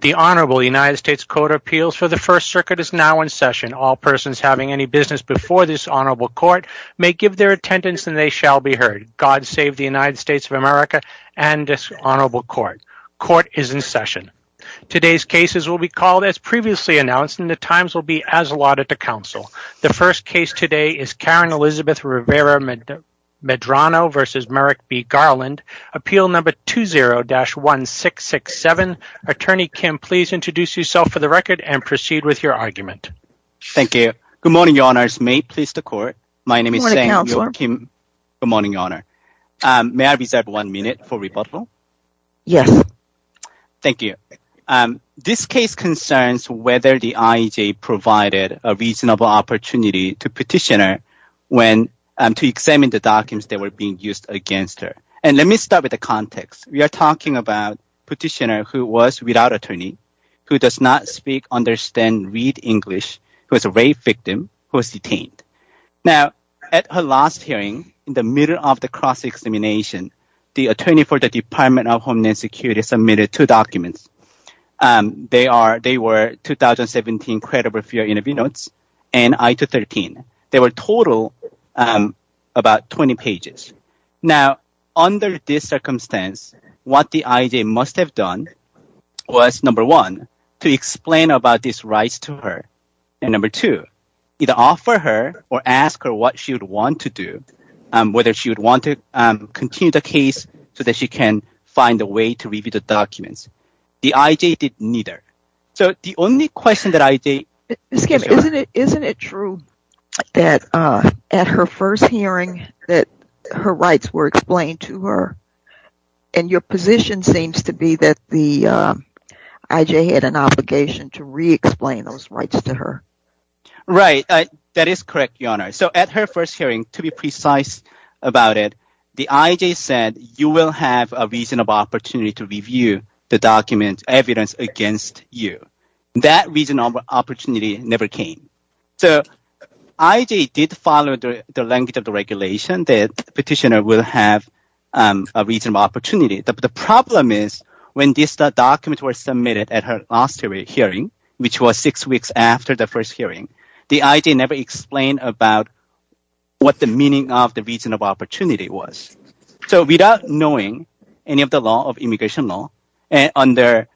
The Honorable United States Court of Appeals for the First Circuit is now in session. All persons having any business before this Honorable Court may give their attendance and they shall be heard. God save the United States of America and this Honorable Court. Court is in session. Today's cases will be called as previously announced and the times will be as allotted to counsel. The first case today is Karen Elizabeth Rivera-Medrano v. Merrick B. Garland, Appeal No. 20-1667. Attorney Kim, please introduce yourself for the record and proceed with your argument. Thank you. Good morning, Your Honors. May it please the Court. My name is Sang-Yeop Kim. Good morning, Your Honor. May I reserve one minute for rebuttal? Yes. Thank you. This case concerns whether the IEJ provided a reasonable opportunity to petitioner to examine the documents that were being used against her. And let me start with the context. We are talking about petitioner who was without attorney, who does not speak, understand, read English, who is a rape victim, who is detained. Now, at her last hearing, in the middle of the cross-examination, the attorney for the Department of Homeland Security submitted two documents. They were 2017 Credible Fear Interview Notes and I-213. They were total about 20 pages. Now, under this circumstance, what the IEJ must have done was, number one, to explain about these rights to her. And number two, either offer her or ask her what she would want to do, whether she would want to continue the case so that she can find a way to review the documents. The IEJ did neither. So, the only question that IEJ... Mr. Kim, isn't it true that at her first hearing that her rights were explained to her? And your position seems to be that the IEJ had an obligation to re-explain those rights to her. Right. That is correct, Your Honor. So, at her first hearing, to be precise about it, the IEJ said, you will have a reasonable opportunity to review the document evidence against you. That reasonable opportunity never came. So, IEJ did follow the language of the regulation that petitioner will have a reasonable opportunity. The problem is, when these documents were submitted at her last hearing, which was six weeks after the first hearing, the IEJ never explained about what the meaning of the reasonable opportunity was. So, without knowing any of the law of immigration law and under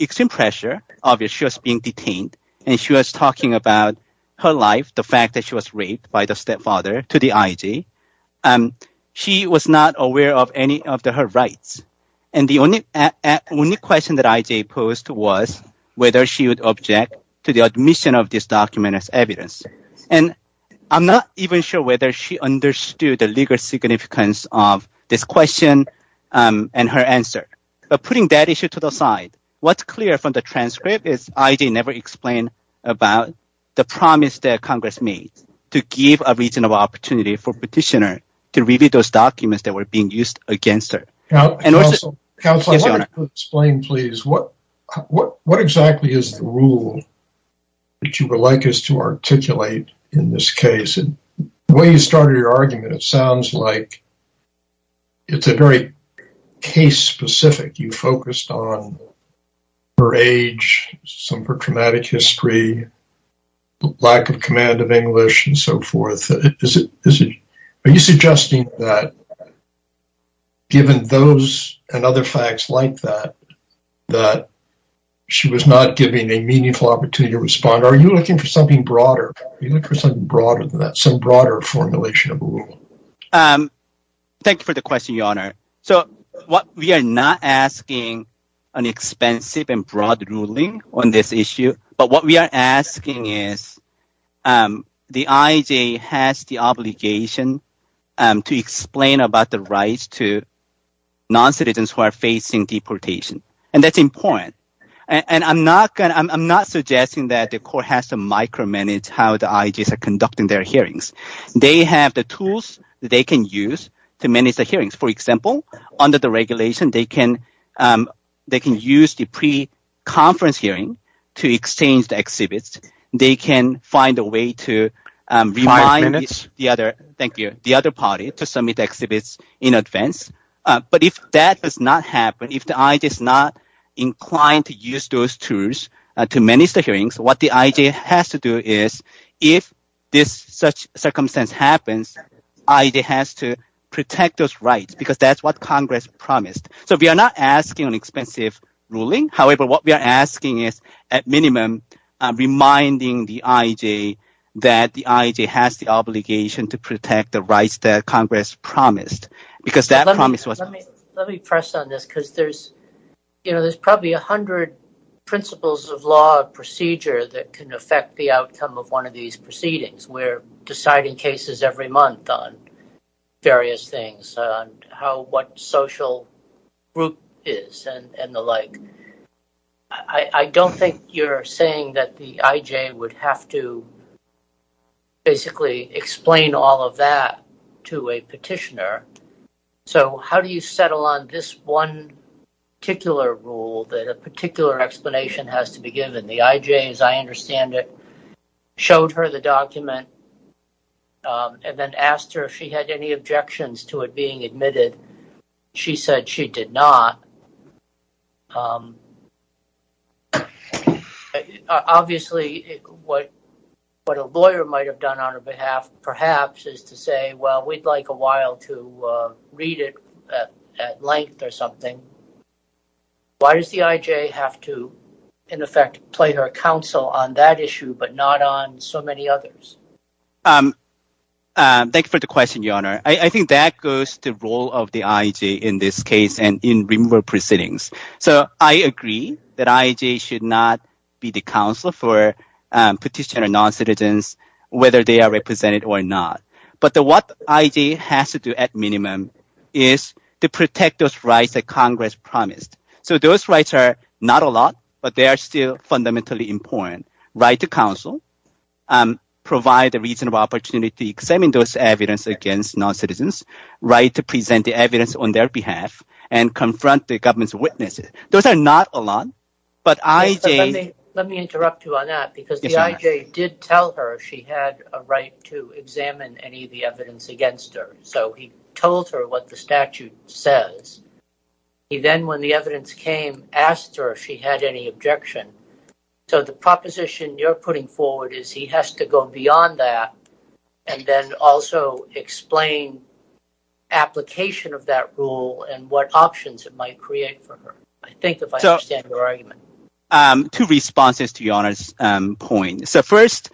extreme pressure, obviously, she was being detained and she was talking about her life, the fact that she was raped by the stepfather to the IEJ. She was not aware of any of her rights. And the only question that IEJ posed was whether she would object to the admission of this document as a legal significance of this question and her answer. But putting that issue to the side, what's clear from the transcript is IEJ never explained about the promise that Congress made to give a reasonable opportunity for petitioner to review those documents that were being used against her. Counselor, let me explain, please. What exactly is the rule that you would like us to articulate in this case? The way you started your argument, it sounds like it's a very case-specific. You focused on her age, some of her traumatic history, lack of command of English and so forth. Are you suggesting that, given those and other facts like that, that she was not giving a meaningful opportunity to respond? Are you looking for something broader than that, some broader formulation of a rule? Thank you for the question, Your Honor. So, we are not asking an expensive and broad ruling on this issue. But what we are asking is the IEJ has the obligation to explain about the rights to non-citizens who are facing deportation, and that's important. I'm not suggesting that the court has to micromanage how the IEJ is conducting their hearings. They have the tools they can use to manage the hearings. For example, under the regulation, they can use the pre-conference hearing to exchange the exhibits. They can find a way to remind the other party to submit exhibits in advance. But if that does not happen, if the IEJ is not inclined to use those tools to manage the hearings, what the IEJ has to do is, if this such circumstance happens, the IEJ has to protect those rights because that's what Congress promised. So, we are not asking an expensive ruling. However, what we are asking is, at minimum, reminding the IEJ that the IEJ has the obligation to protect the rights that Congress promised. Let me press on this because there's probably a hundred principles of law and procedure that can affect the outcome of one of these proceedings. We're deciding cases every month on various things, on what social group is and the like. I don't think you're saying that the IEJ would have to basically explain all of that to a petitioner. So, how do you settle on this one particular rule that a particular explanation has to be given? The IEJ, as I understand it, showed her the document and then asked her if she had any objections to it being admitted. She said she did not. Obviously, what a lawyer might have done on her behalf, perhaps, is to say, well, we'd like a while to read it at length or something. Why does the IEJ have to, in effect, play her counsel on that issue but not on so many others? Thank you for the question, Your Honor. I think that goes to the role of the IEJ in this case and in removal proceedings. So, I agree that IEJ should not be the counsel for petitioner non-citizens, whether they are represented or not. But what the IEJ has to do, at minimum, is to protect those rights that Congress promised. So, those rights are not a lot, but they are still fundamentally important. Right to counsel. Provide a reasonable opportunity to examine those evidence against non-citizens. Right to present the evidence on their behalf and confront the government's witnesses. Those are not a lot, but IEJ... Let me interrupt you on that because the IEJ did tell her she had a right to examine any of the evidence against her. So, he told her what the statute says. He then, when the evidence came, asked her if she had any objection. So, the proposition you're putting forward is he has to go beyond that and then also explain application of that rule and what options it might create for her. I think if I understand your argument. Two responses to Your Honor's point. So, first,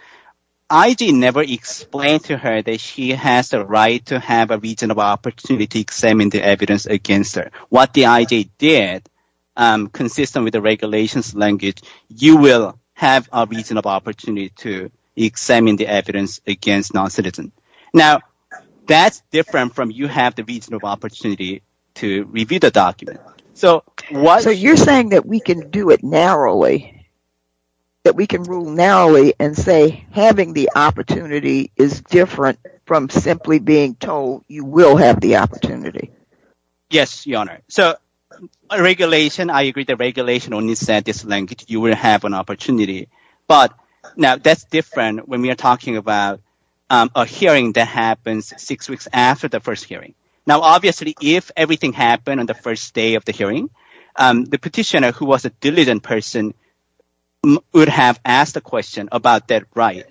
IEJ never explained to her that she has a right to have a reasonable opportunity to examine the consistent with the regulations language. You will have a reasonable opportunity to examine the evidence against non-citizens. Now, that's different from you have the reasonable opportunity to review the document. So, you're saying that we can do it narrowly? That we can rule narrowly and say having the opportunity is different from simply being told you will have the opportunity? Yes, Your Honor. So, a regulation, I agree the regulation only said this language. You will have an opportunity. But now, that's different when we are talking about a hearing that happens six weeks after the first hearing. Now, obviously, if everything happened on the first day of the hearing, the petitioner who was a diligent person would have asked a question about that right.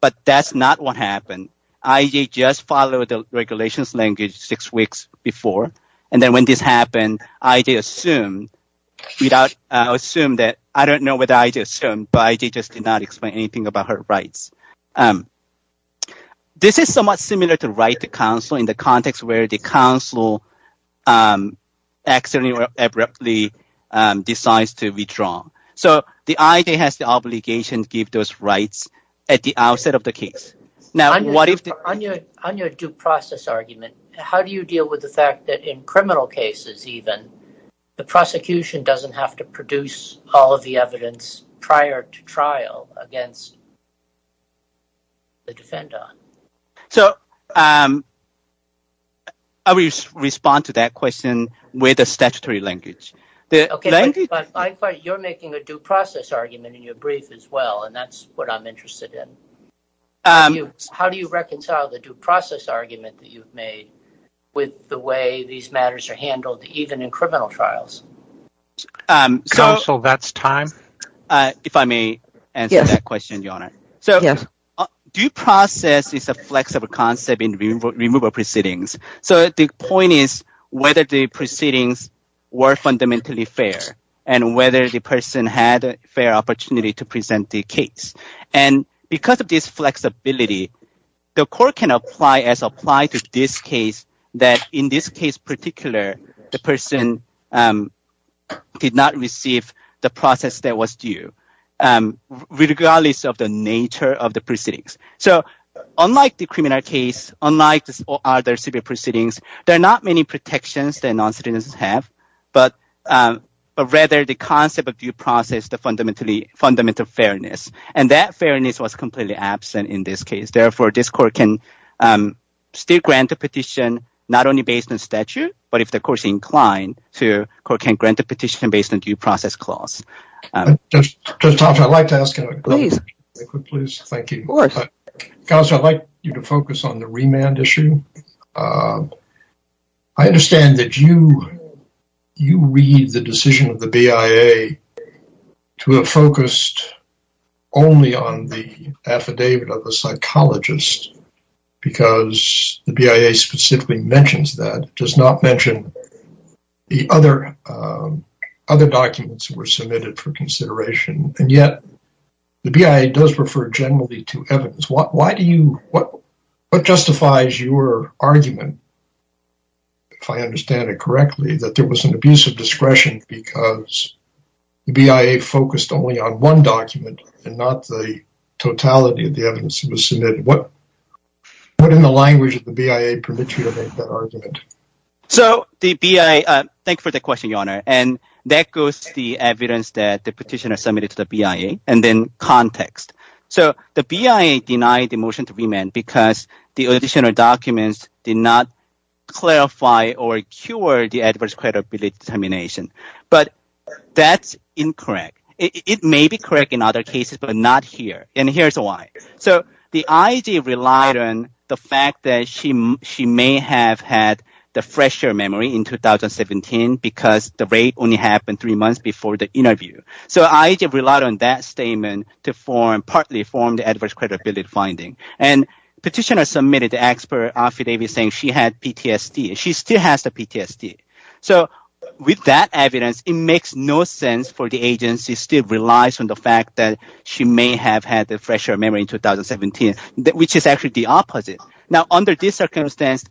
But that's not what happened. IEJ just followed the regulations language six weeks before. And then when this happened, IEJ assumed that, I don't know what IEJ assumed, but IEJ just did not explain anything about her rights. This is somewhat similar to right to counsel in the context where the counsel accidentally or abruptly decides to withdraw. So, the IEJ has the obligation to give those rights at the outset of the case. Now, on your due process argument, how do you deal with the fact that in criminal cases, even, the prosecution doesn't have to produce all of the evidence prior to trial against the defender? So, I will respond to that question with a statutory language. You're making a due process argument in your brief as well. And that's what I'm interested in. How do you reconcile the due process argument that you've made with the way these matters are handled even in criminal trials? Counsel, that's time. If I may answer that question, Your Honor. So, due process is a flexible concept in removal proceedings. So, the point is whether the proceedings were fundamentally fair and whether the person had a fair opportunity to present the case. And because of this flexibility, the court can apply as applied to this case that in this case particular, the person did not receive the process that was due, regardless of the nature of the proceedings. So, unlike the criminal case, unlike other civil proceedings, there are not many protections that process the fundamental fairness. And that fairness was completely absent in this case. Therefore, this court can still grant a petition, not only based on statute, but if the court is inclined, the court can grant a petition based on due process clause. Judge Thompson, I'd like to ask a quick question. Please. Thank you. Counsel, I'd like you to focus on the remand issue. I understand that you read the decision of the BIA to have focused only on the affidavit of the psychologist, because the BIA specifically mentions that, does not mention the other documents that were submitted for consideration. And yet, the BIA does refer generally to evidence. What justifies your argument, if I understand it correctly, that there was an abuse of discretion because the BIA focused only on one document and not the totality of the evidence that was submitted? What, in the language of the BIA, permits you to make that argument? So, the BIA, thank you for the question, Your Honor. And that goes to the evidence that the BIA denied the motion to remand because the additional documents did not clarify or cure the adverse credibility determination. But that's incorrect. It may be correct in other cases, but not here. And here's why. So, the IG relied on the fact that she may have had the fresher memory in 2017 because the rape only happened three months before the interview. So, IG relied on that statement to partly form the adverse credibility finding. And petitioners submitted the expert affidavit saying she had PTSD. She still has the PTSD. So, with that evidence, it makes no sense for the agency to still rely on the fact that she may have had the fresher memory in 2017, which is actually the opposite. Now, under this circumstance,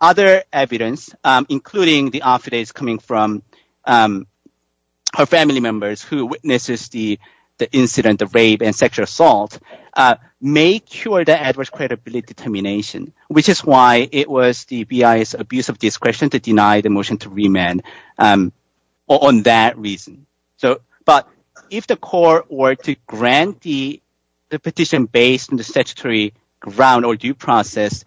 other evidence, including the affidavits coming from her family members who witnessed the incident, the rape and sexual assault, may cure the adverse credibility determination, which is why it was the BIA's abuse of discretion to deny the motion to remand on that reason. But if the court were to grant the petition based on the statutory ground or due process,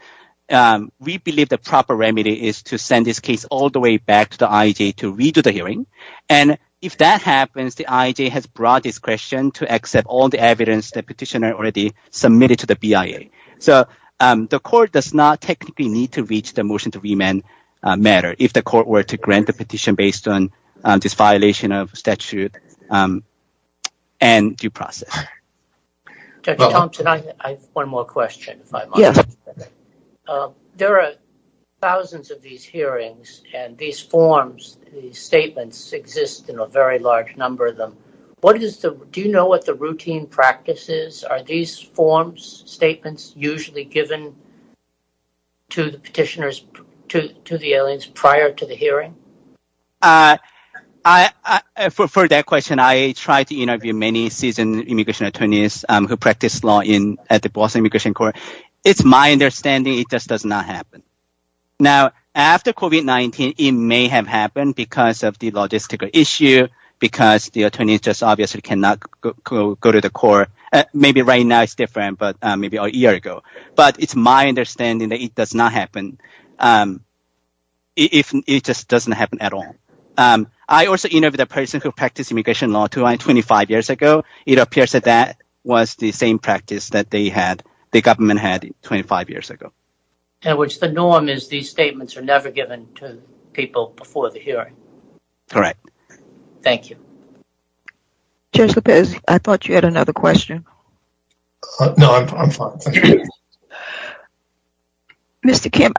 we believe the proper remedy is to send this case all the way back to the IG to redo the hearing. And if that happens, the IG has broad discretion to accept all the evidence the petitioner already submitted to the BIA. So, the court does not technically need to reach the motion to remand matter if the court were to grant the petition based on this violation of statute and due process. Dr. Thompson, I have one more question. There are thousands of these hearings, and these forms, these statements exist in a very large number of them. Do you know what the routine practice is? Are these forms, statements, usually given to the petitioners, to the aliens prior to the hearing? For that question, I tried to interview many seasoned immigration attorneys who practice law at the Boston Immigration Court. It's my understanding it just does not happen. Now, after COVID-19, it may have happened because of the logistical issue, because the attorney just obviously cannot go to the court. Maybe right now it's different, but maybe a year ago. But it's my understanding that it does not happen. It just doesn't happen at all. I also interviewed a person who practiced immigration law 25 years ago. It appears that that was the same practice that the government had 25 years ago. In other words, the norm is these statements are never given to people before the hearing. Correct. Thank you. Judge Lopez, I thought you had another question. No, I'm fine. Mr. Kim,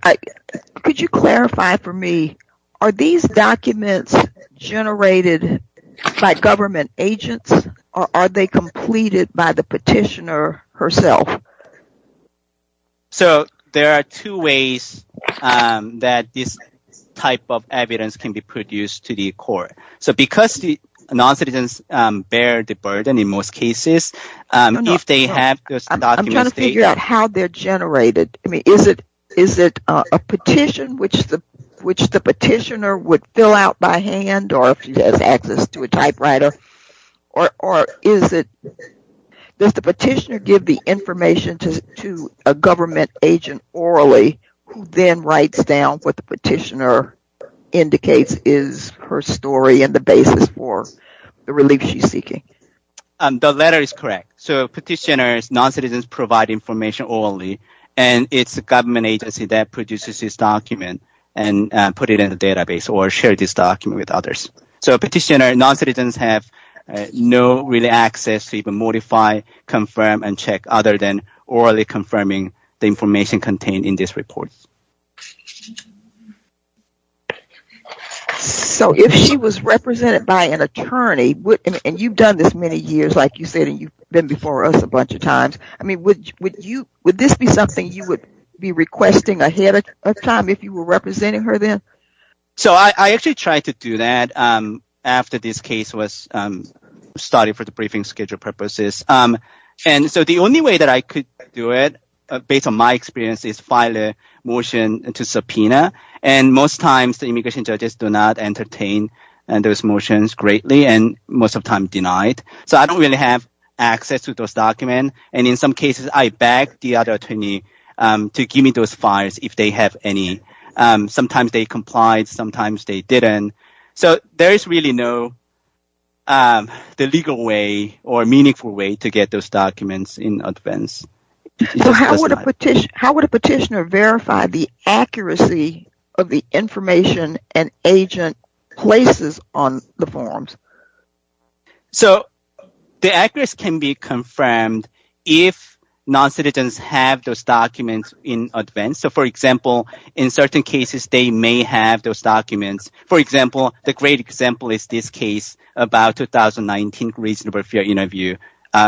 could you clarify for me, are these documents generated by government agents, or are they completed by the petitioner herself? So, there are two ways that this type of evidence can be produced to the court. So, because the non-citizens bear the burden in most cases, if they have those documents— I'm trying to figure out how they're generated. I mean, is it a petition which the petitioner would fill out by hand, or if she has access to a typewriter? Or does the petitioner give the information to a government agent orally, who then writes down what the petitioner is her story and the basis for the relief she's seeking? The letter is correct. So, petitioners, non-citizens provide information orally, and it's the government agency that produces this document and put it in the database or share this document with others. So, petitioner, non-citizens have no real access to even modify, confirm, and check other than orally confirming the information contained in this report. So, if she was represented by an attorney, and you've done this many years, like you said, and you've been before us a bunch of times, I mean, would this be something you would be requesting ahead of time if you were representing her then? So, I actually tried to do that after this case was started for the briefing schedule purposes. And so, the only way that I could do it, based on my experience, is file a motion to subpoena. And most times, the immigration judges do not entertain those motions greatly, and most of the time denied. So, I don't really have access to those documents. And in some cases, I beg the other attorney to give me those files if they have any. Sometimes they complied, sometimes they didn't. So, there is really no legal way or meaningful way to get those documents in advance. So, how would a petitioner verify the accuracy of the information an agent places on the forms? So, the accuracy can be confirmed if non-citizens have those documents in advance. So, for example, in certain cases, they may have those documents. For example, the great example is this case about 2019 reasonable fear interview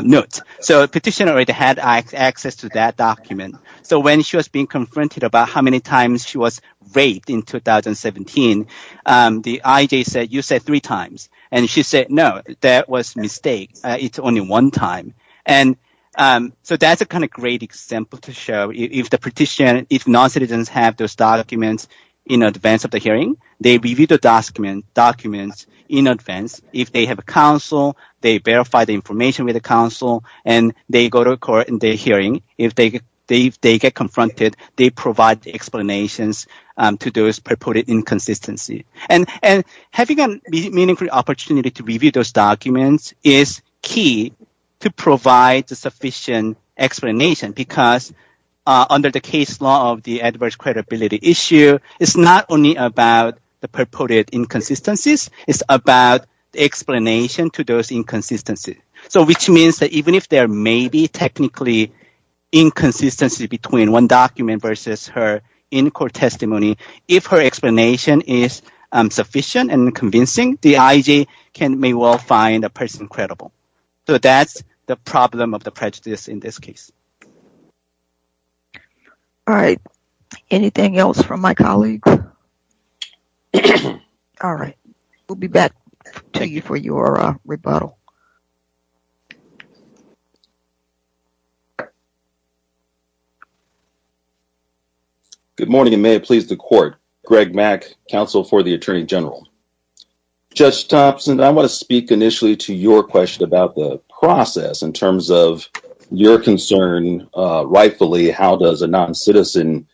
note. So, petitioner had access to that document. So, when she was being confronted about how many times she was raped in 2017, the IJ said, you said three times. And she said, no, that was a mistake. It's only one time. And so, that's a kind of great example to show if the petitioner, if non-citizens have those documents in advance of the hearing, they review the documents in advance. If they have a counsel, they verify the information with the counsel, and they go to court in the hearing. If they get confronted, they provide explanations to those purported inconsistencies. And having a meaningful opportunity to review those documents is key to provide the sufficient explanation because under the case law of the adverse credibility issue, it's not only about the purported inconsistencies. It's about explanation to those inconsistencies. So, which means that even if there may be technically inconsistency between one document versus her in-court testimony, if her explanation is sufficient and convincing, the IJ may well find a person credible. So, that's the problem of the prejudice in this case. All right. Anything else from my colleagues? All right. We'll be back to you for your rebuttal. Good morning, and may it please the court. Greg Mack, counsel for the Attorney General. Judge Thompson, I want to speak initially to your question about the process in terms of your concern rightfully, how does a noncitizen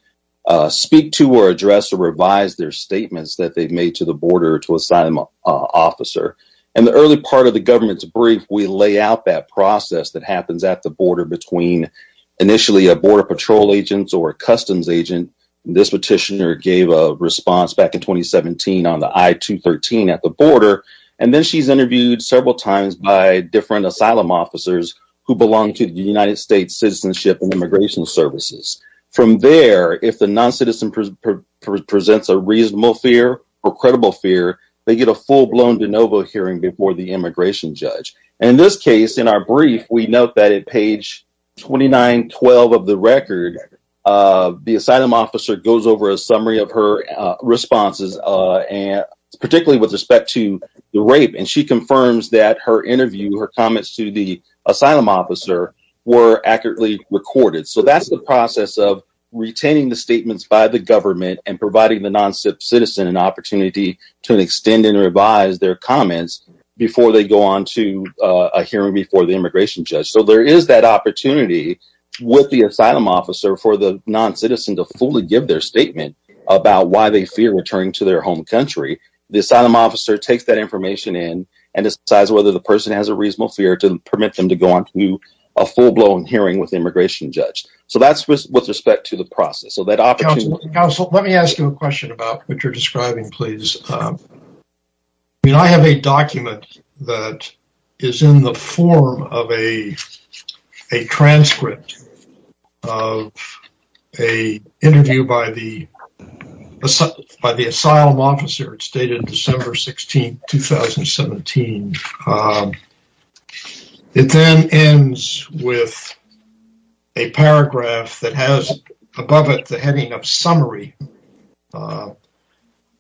speak to or address or revise their statements that they've made to the border to assign them an officer? In the early part of the government's brief, we lay out that process that happens at the border between initially a border patrol agent or a customs agent. This petitioner gave a response back in 2017 on the I-213 at the border, and then she's interviewed several times by different asylum officers who belong to the United States Citizenship and Immigration Services. From there, if the noncitizen presents a reasonable fear or credible fear, they get a full-blown de novo hearing before the immigration judge. In this case, in our brief, we note that at page 2912 of the record, the asylum officer goes over a summary of her responses, particularly with respect to the rape, and she confirms that her interview, her comments to the asylum officer were accurately recorded. So that's the process of retaining the statements by the government and providing the noncitizen an opportunity to extend and revise their comments before they go on to a hearing before the immigration judge. So there is that opportunity with the asylum officer for the noncitizen to fully give their statement about why they fear returning to their home country. The asylum officer takes that information in and decides whether the person has a reasonable fear to permit them to go on to a full-blown hearing with the immigration judge. So that's with respect to the process. Counsel, let me ask you a question about what you're describing, please. I have a document that is in the form of a transcript of an interview by the asylum officer.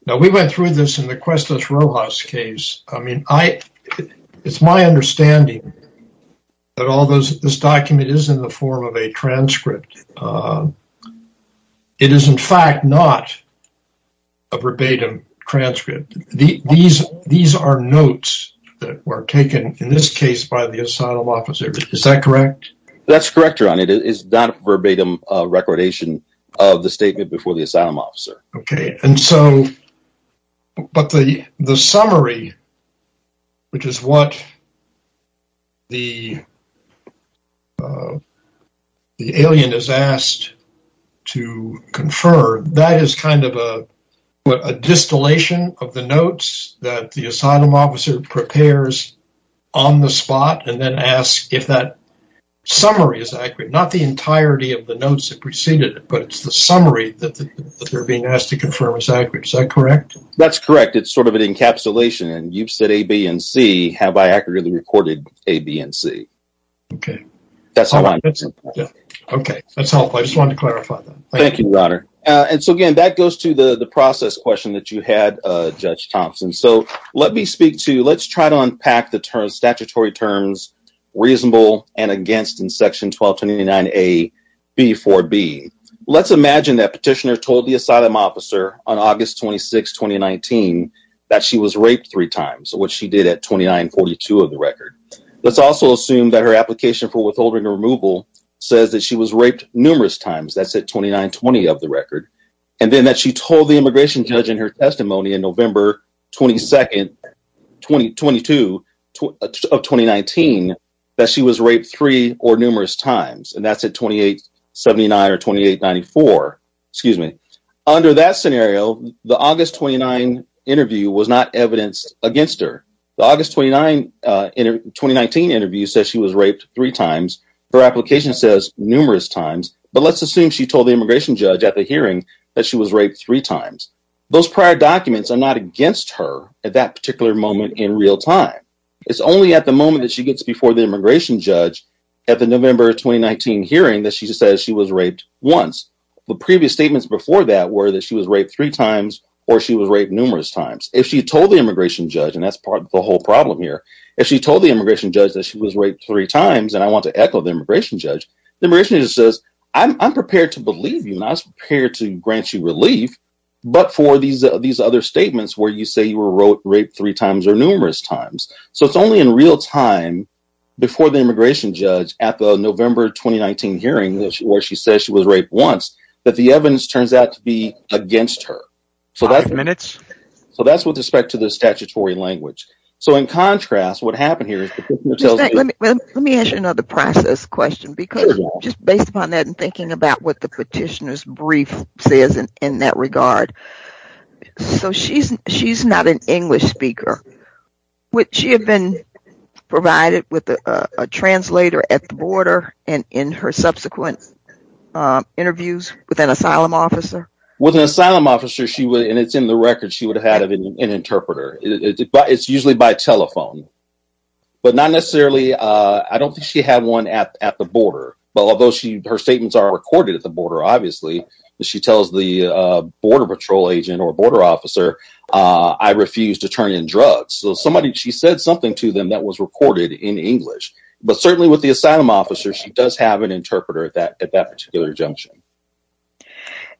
Now, we went through this in the Cuestas Rojas case. I mean, it's my understanding that although this document is in the form of a transcript, it is in fact not a verbatim transcript. These are notes that were taken, in this case, by the asylum officer. Is that correct? That's correct, Your Honor. It is not a verbatim recordation of the statement before the asylum officer. Okay. But the summary, which is what the alien is asked to confer, that is kind of a distillation of the notes that the asylum officer prepares on the spot and then asks if that summary is accurate. Not the entirety of the notes that preceded it, but it's the summary that they're being asked to confirm is accurate. Is that correct? That's correct. It's sort of an encapsulation, and you've said A, B, and C. Have I accurately recorded A, B, and C? Okay. That's helpful. I just wanted to clarify that. Thank you, Your Honor. And so again, that goes to the process question that you had, Judge Thompson. So let me speak to, let's try to unpack the statutory terms reasonable and against in section 1229A, B, 4B. Let's imagine that petitioner told the asylum officer on August 26, 2019, that she was raped three times, which she did at 2942 of the record. Let's also assume that her application for withholding or removal says that she was raped numerous times. That's at 2920 of the record. And then that she told the immigration judge in her testimony in November 22 of 2019, that she was raped three or numerous times. And that's at 2879 or 2894. Excuse me. Under that scenario, the August 29 interview was not evidenced against her. The August 29, 2019 interview says she was raped three times. Her application says numerous times, but let's assume she told the immigration judge at the hearing that she was raped three times. Those prior documents are not against her at that particular moment in real time. It's only at the moment that she gets before the immigration judge at the November 2019 hearing that she says she was raped once. The previous statements before that were that she was raped three times or she was raped numerous times. If she told the immigration judge, and that's part of the whole problem here, if she told the immigration judge that she was raped three times, and I want to echo the immigration judge, the immigration judge says, I'm prepared to believe you and I these other statements where you say you were raped three times or numerous times. So it's only in real time before the immigration judge at the November 2019 hearing, where she says she was raped once, that the evidence turns out to be against her. Five minutes. So that's with respect to the statutory language. So in contrast, what happened here is- Let me ask you another process question, because just based upon that and thinking about what the So she's not an English speaker. Would she have been provided with a translator at the border and in her subsequent interviews with an asylum officer? With an asylum officer, she would, and it's in the record, she would have had an interpreter. It's usually by telephone, but not necessarily, I don't think she had one at the border. But although her statements are recorded at the border, obviously, she tells the border patrol agent or border officer, I refuse to turn in drugs. So somebody, she said something to them that was recorded in English, but certainly with the asylum officer, she does have an interpreter at that particular junction.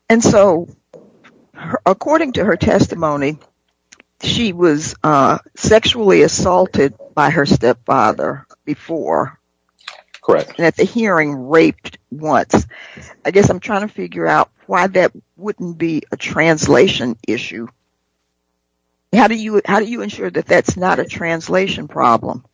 And so according to her testimony, she was sexually assaulted by her stepfather before. Correct. At the hearing, raped once. I guess I'm trying to figure out why that wouldn't be a translation issue. How do you ensure that that's not a translation problem?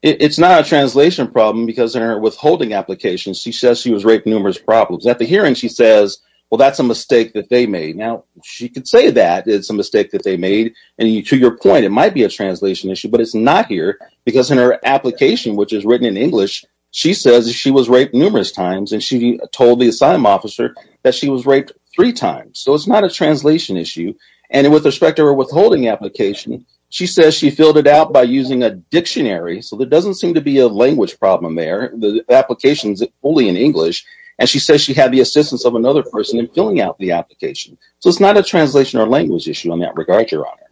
It's not a translation problem because in her withholding application, she says she was raped numerous problems. At the hearing, she says, well, that's a mistake that they made. Now she could say that it's a mistake that they made and to your point, it might be a translation issue, but it's not here because in her application, which is written in English, she says she was raped numerous times. And she told the asylum officer that she was raped three times. So it's not a translation issue. And with respect to her withholding application, she says she filled it out by using a dictionary. So there doesn't seem to be a language problem there. The application is fully in English. And she says she had the assistance of another person in filling out the application. So it's not a translation or language issue in that regard, Your Honor.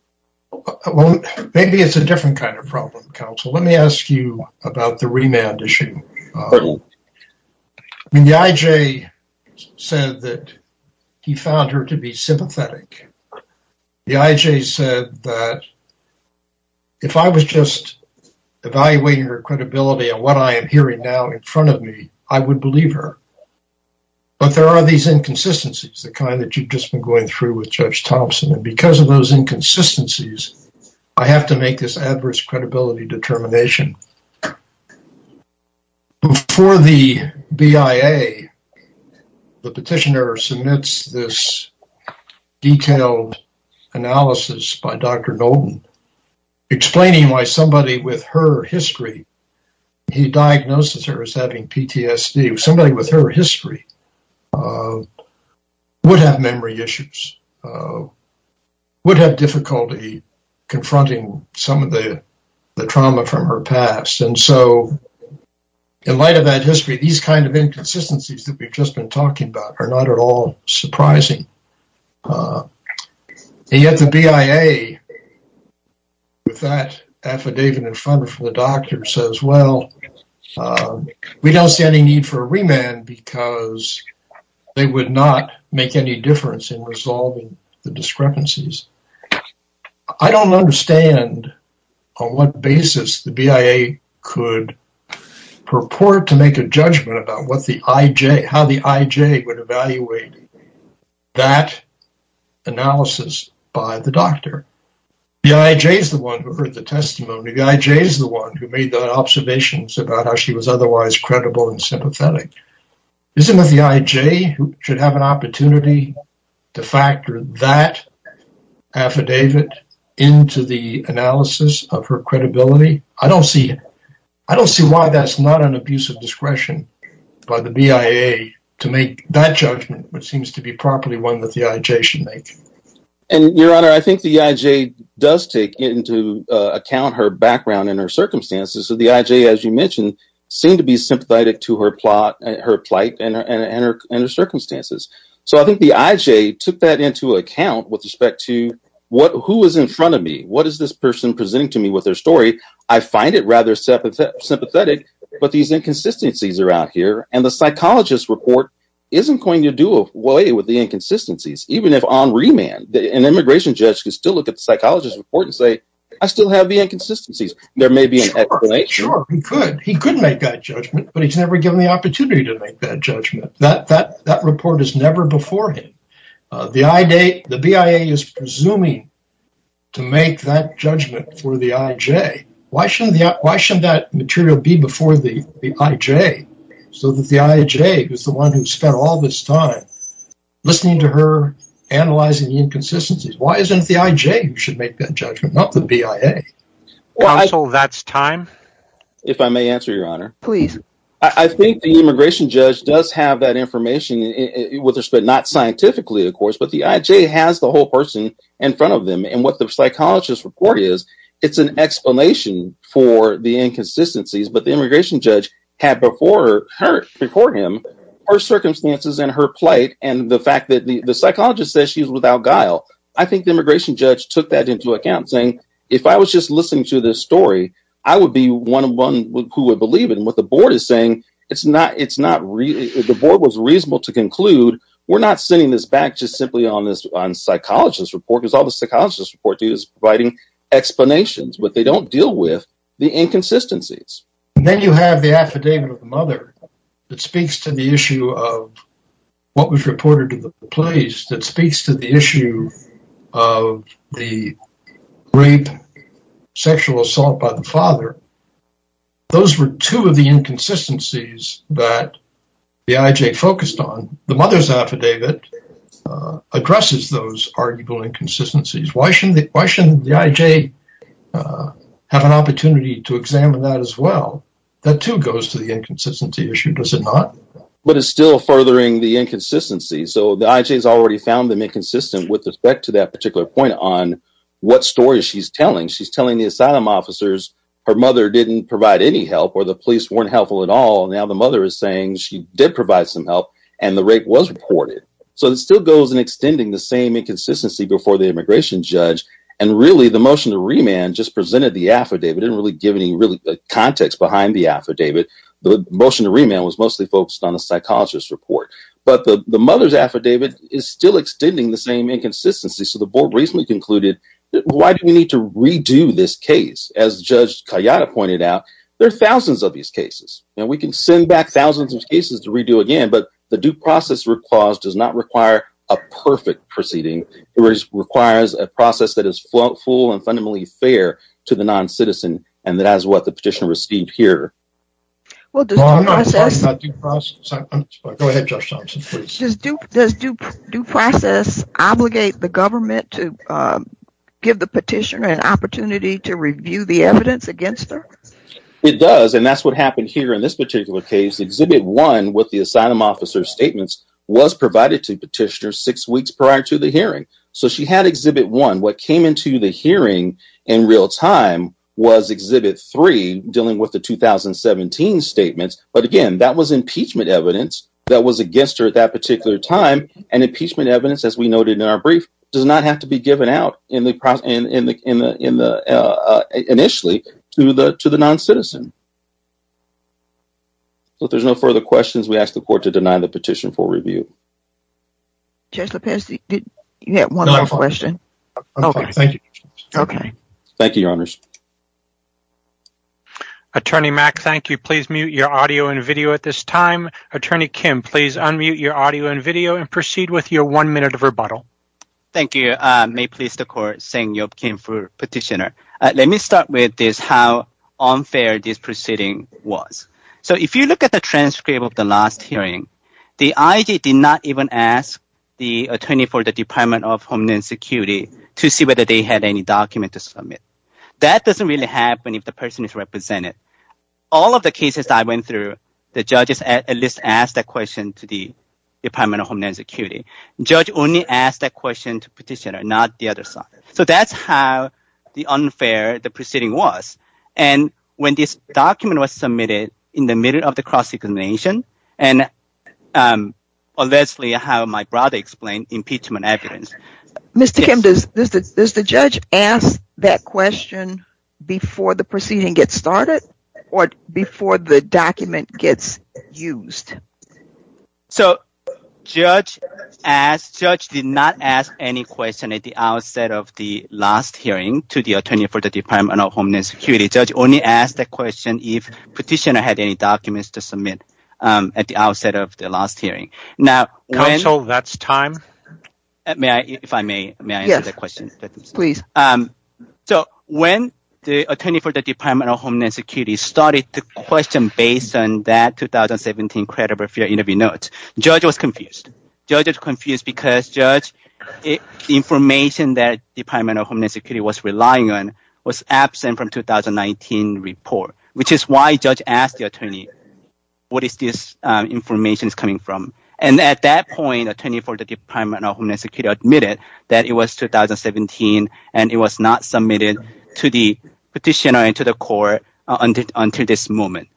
Well, maybe it's a different kind of problem, counsel. Let me ask you about the remand issue. I mean, the IJ said that he found her to be sympathetic. The IJ said that if I was just evaluating her credibility and what I am hearing now in front of me, I would believe her. But there are these inconsistencies, the kind that you've just been going through with Judge Thompson. And because of those inconsistencies, I have to make this adverse credibility determination. Before the BIA, the petitioner submits this detailed analysis by Dr. Nolten, explaining why somebody with her history, he diagnosed her as having PTSD. Somebody with her history would have memory issues, or would have difficulty confronting some of the trauma from her past. And so in light of that history, these kind of inconsistencies that we've just been talking about are not at all surprising. And yet the BIA with that affidavit in front of the doctor says, well, we don't see any need for a remand because they would not make any difference in resolving the discrepancies. I don't understand on what basis the BIA could purport to make a judgment about how the IJ would evaluate that analysis by the doctor. The IJ is the one who heard the testimony. The IJ is the one who made the observations about how she was otherwise credible and sympathetic. Isn't it the IJ who should have an opportunity to factor that affidavit into the analysis of her credibility? I don't see why that's not an abusive discretion by the BIA to make that judgment, which seems to be properly one that the IJ should make. And your honor, I think the IJ does take into account her background and her circumstances. So the IJ, as you mentioned, seemed to be sympathetic to her plot and her circumstances. So I think the IJ took that into account with respect to who was in front of me. What is this person presenting to me with their story? I find it rather sympathetic, but these inconsistencies are out here and the psychologist's report isn't going to do away with the inconsistencies. Even if on remand, an immigration judge can still look at the psychologist's report and say, I still have the inconsistencies. There may be an explanation. Sure, he could. But he's never given the opportunity to make that judgment. That report is never before him. The BIA is presuming to make that judgment for the IJ. Why shouldn't that material be before the IJ? So that the IJ, who's the one who spent all this time listening to her, analyzing the inconsistencies, why isn't it the IJ who should make that judgment, not the BIA? Counsel, that's time. If I may answer, Your Honor. Please. I think the immigration judge does have that information with respect, not scientifically, of course, but the IJ has the whole person in front of them. And what the psychologist's report is, it's an explanation for the inconsistencies, but the immigration judge had before her, before him, her circumstances and her plight and the fact that the psychologist says she's without guile. I think the immigration judge took that into account saying, if I was just listening to this story, I would be one who would believe it. And what the board is saying, the board was reasonable to conclude, we're not sending this back just simply on this psychologist's report, because all the psychologist's report is providing explanations, but they don't deal with the inconsistencies. Then you have the affidavit of the mother that speaks to the issue of what was reported to the police, that speaks to the issue of the rape, sexual assault by the father. Those were two of the inconsistencies that the IJ focused on. The mother's affidavit addresses those arguable inconsistencies. Why shouldn't the IJ have an opportunity to examine that as well? That too goes to the inconsistency issue, does it not? But it's still furthering the inconsistency. So the IJ has already found them inconsistent with respect to that particular point on what story she's telling. She's telling the asylum officers her mother didn't provide any help, or the police weren't helpful at all. Now the mother is saying she did provide some help and the rape was reported. So it still goes in extending the same inconsistency before the immigration judge. And really, the motion to remand just presented the affidavit, didn't really give any context behind the affidavit. The motion to remand was mostly focused on a psychologist's report. But the mother's affidavit is still extending the same inconsistency. So the board recently concluded, why do we need to redo this case? As Judge Kayada pointed out, there are thousands of these cases. And we can send back thousands of cases to redo again. But the due process clause does not require a perfect proceeding. It requires a process that is full and fundamentally fair to the non-citizen. And that is what the petitioner received here. I'm not talking about due process. Go ahead, Judge Thompson, please. Does due process obligate the government to give the petitioner an opportunity to review the evidence against her? It does. And that's what happened here in this particular case. Exhibit 1 with the asylum officer's statements was provided to petitioner six weeks prior to the hearing. So she had Exhibit 1. What came into the hearing in real time was Exhibit 3, dealing with the 2017 statements. But again, that was impeachment evidence that was against her at that particular time. And impeachment evidence, as we noted in our brief, does not have to be given out initially to the non-citizen. So if there's no further questions, we ask the court to deny the petition for review. Judge Lopez, you had one last question. Thank you, Your Honors. Attorney Mack, thank you. Please mute your audio and video at this time. Attorney Kim, please unmute your audio and video and proceed with your one minute of rebuttal. Thank you. May it please the court, Seng-Yeop Kim for petitioner. Let me start with this, how unfair this proceeding was. So if you look at the transcript of the last hearing, the IG did not even ask the attorney for the Department of Homeland Security to see whether they had any document to submit. That doesn't really happen if the person is represented. All of the cases I went through, the judges at least asked that question to the Department of Homeland Security. Judge only asked that question to petitioner, not the other side. So that's how unfair the proceeding was. And when this document was submitted in the middle of the cross-examination, and unless how my brother explained impeachment evidence. Mr. Kim, does the judge ask that question before the proceeding gets started? Or before the document gets used? So, judge did not ask any question at the outset of the last hearing to the attorney for the Department of Homeland Security. Judge only asked that question if petitioner had any documents to submit at the outset of the last hearing. Counsel, that's time. May I, if I may, may I answer that question? Please. So, when the attorney for the Department of Homeland Security started to question based on that 2017 credible fear interview notes, judge was confused. Judge was confused because, judge, information that Department of Homeland Security was relying on was absent from 2019 report. Which is why judge asked the attorney, what is this information coming from? And at that point, attorney for the Department of Homeland Security admitted that it was 2017, and it was not submitted to the petitioner and to the court until this moment.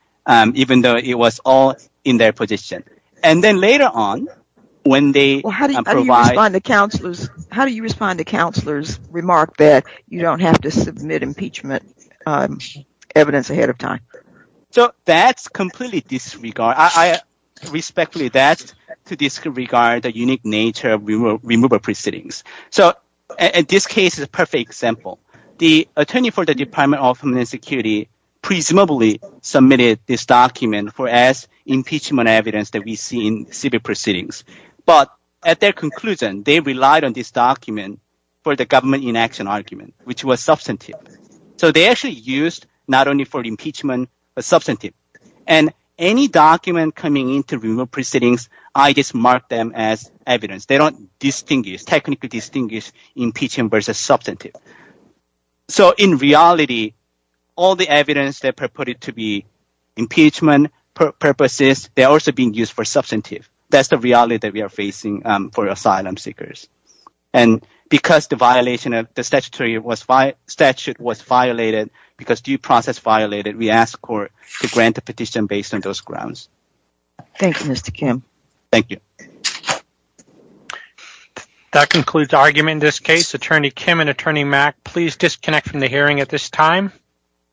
Even though it was all in their position. And then later on, when they provide- How do you respond to counselor's remark that you don't have to submit impeachment evidence ahead of time? So, that's completely disregard. I respectfully ask to disregard the unique nature of removal proceedings. So, in this case is a perfect example. The attorney for the Department of Homeland Security presumably submitted this document for as impeachment evidence that we see in civil proceedings. But at their conclusion, they relied on this document for the government inaction argument, which was substantive. So, they actually used not only for impeachment, but substantive. And any document coming into removal proceedings, I just mark them as evidence. They don't distinguish, technically distinguish impeachment versus substantive. So, in reality, all the evidence that purported to be impeachment purposes, they're also being used for substantive. That's the reality that we are facing for asylum seekers. And because the violation of the statutory statute was violated, because due process violated, we ask court to grant a petition based on those grounds. Thank you, Mr. Kim. Thank you. That concludes the argument in this case. Attorney Kim and Attorney Mack, please disconnect from the hearing at this time.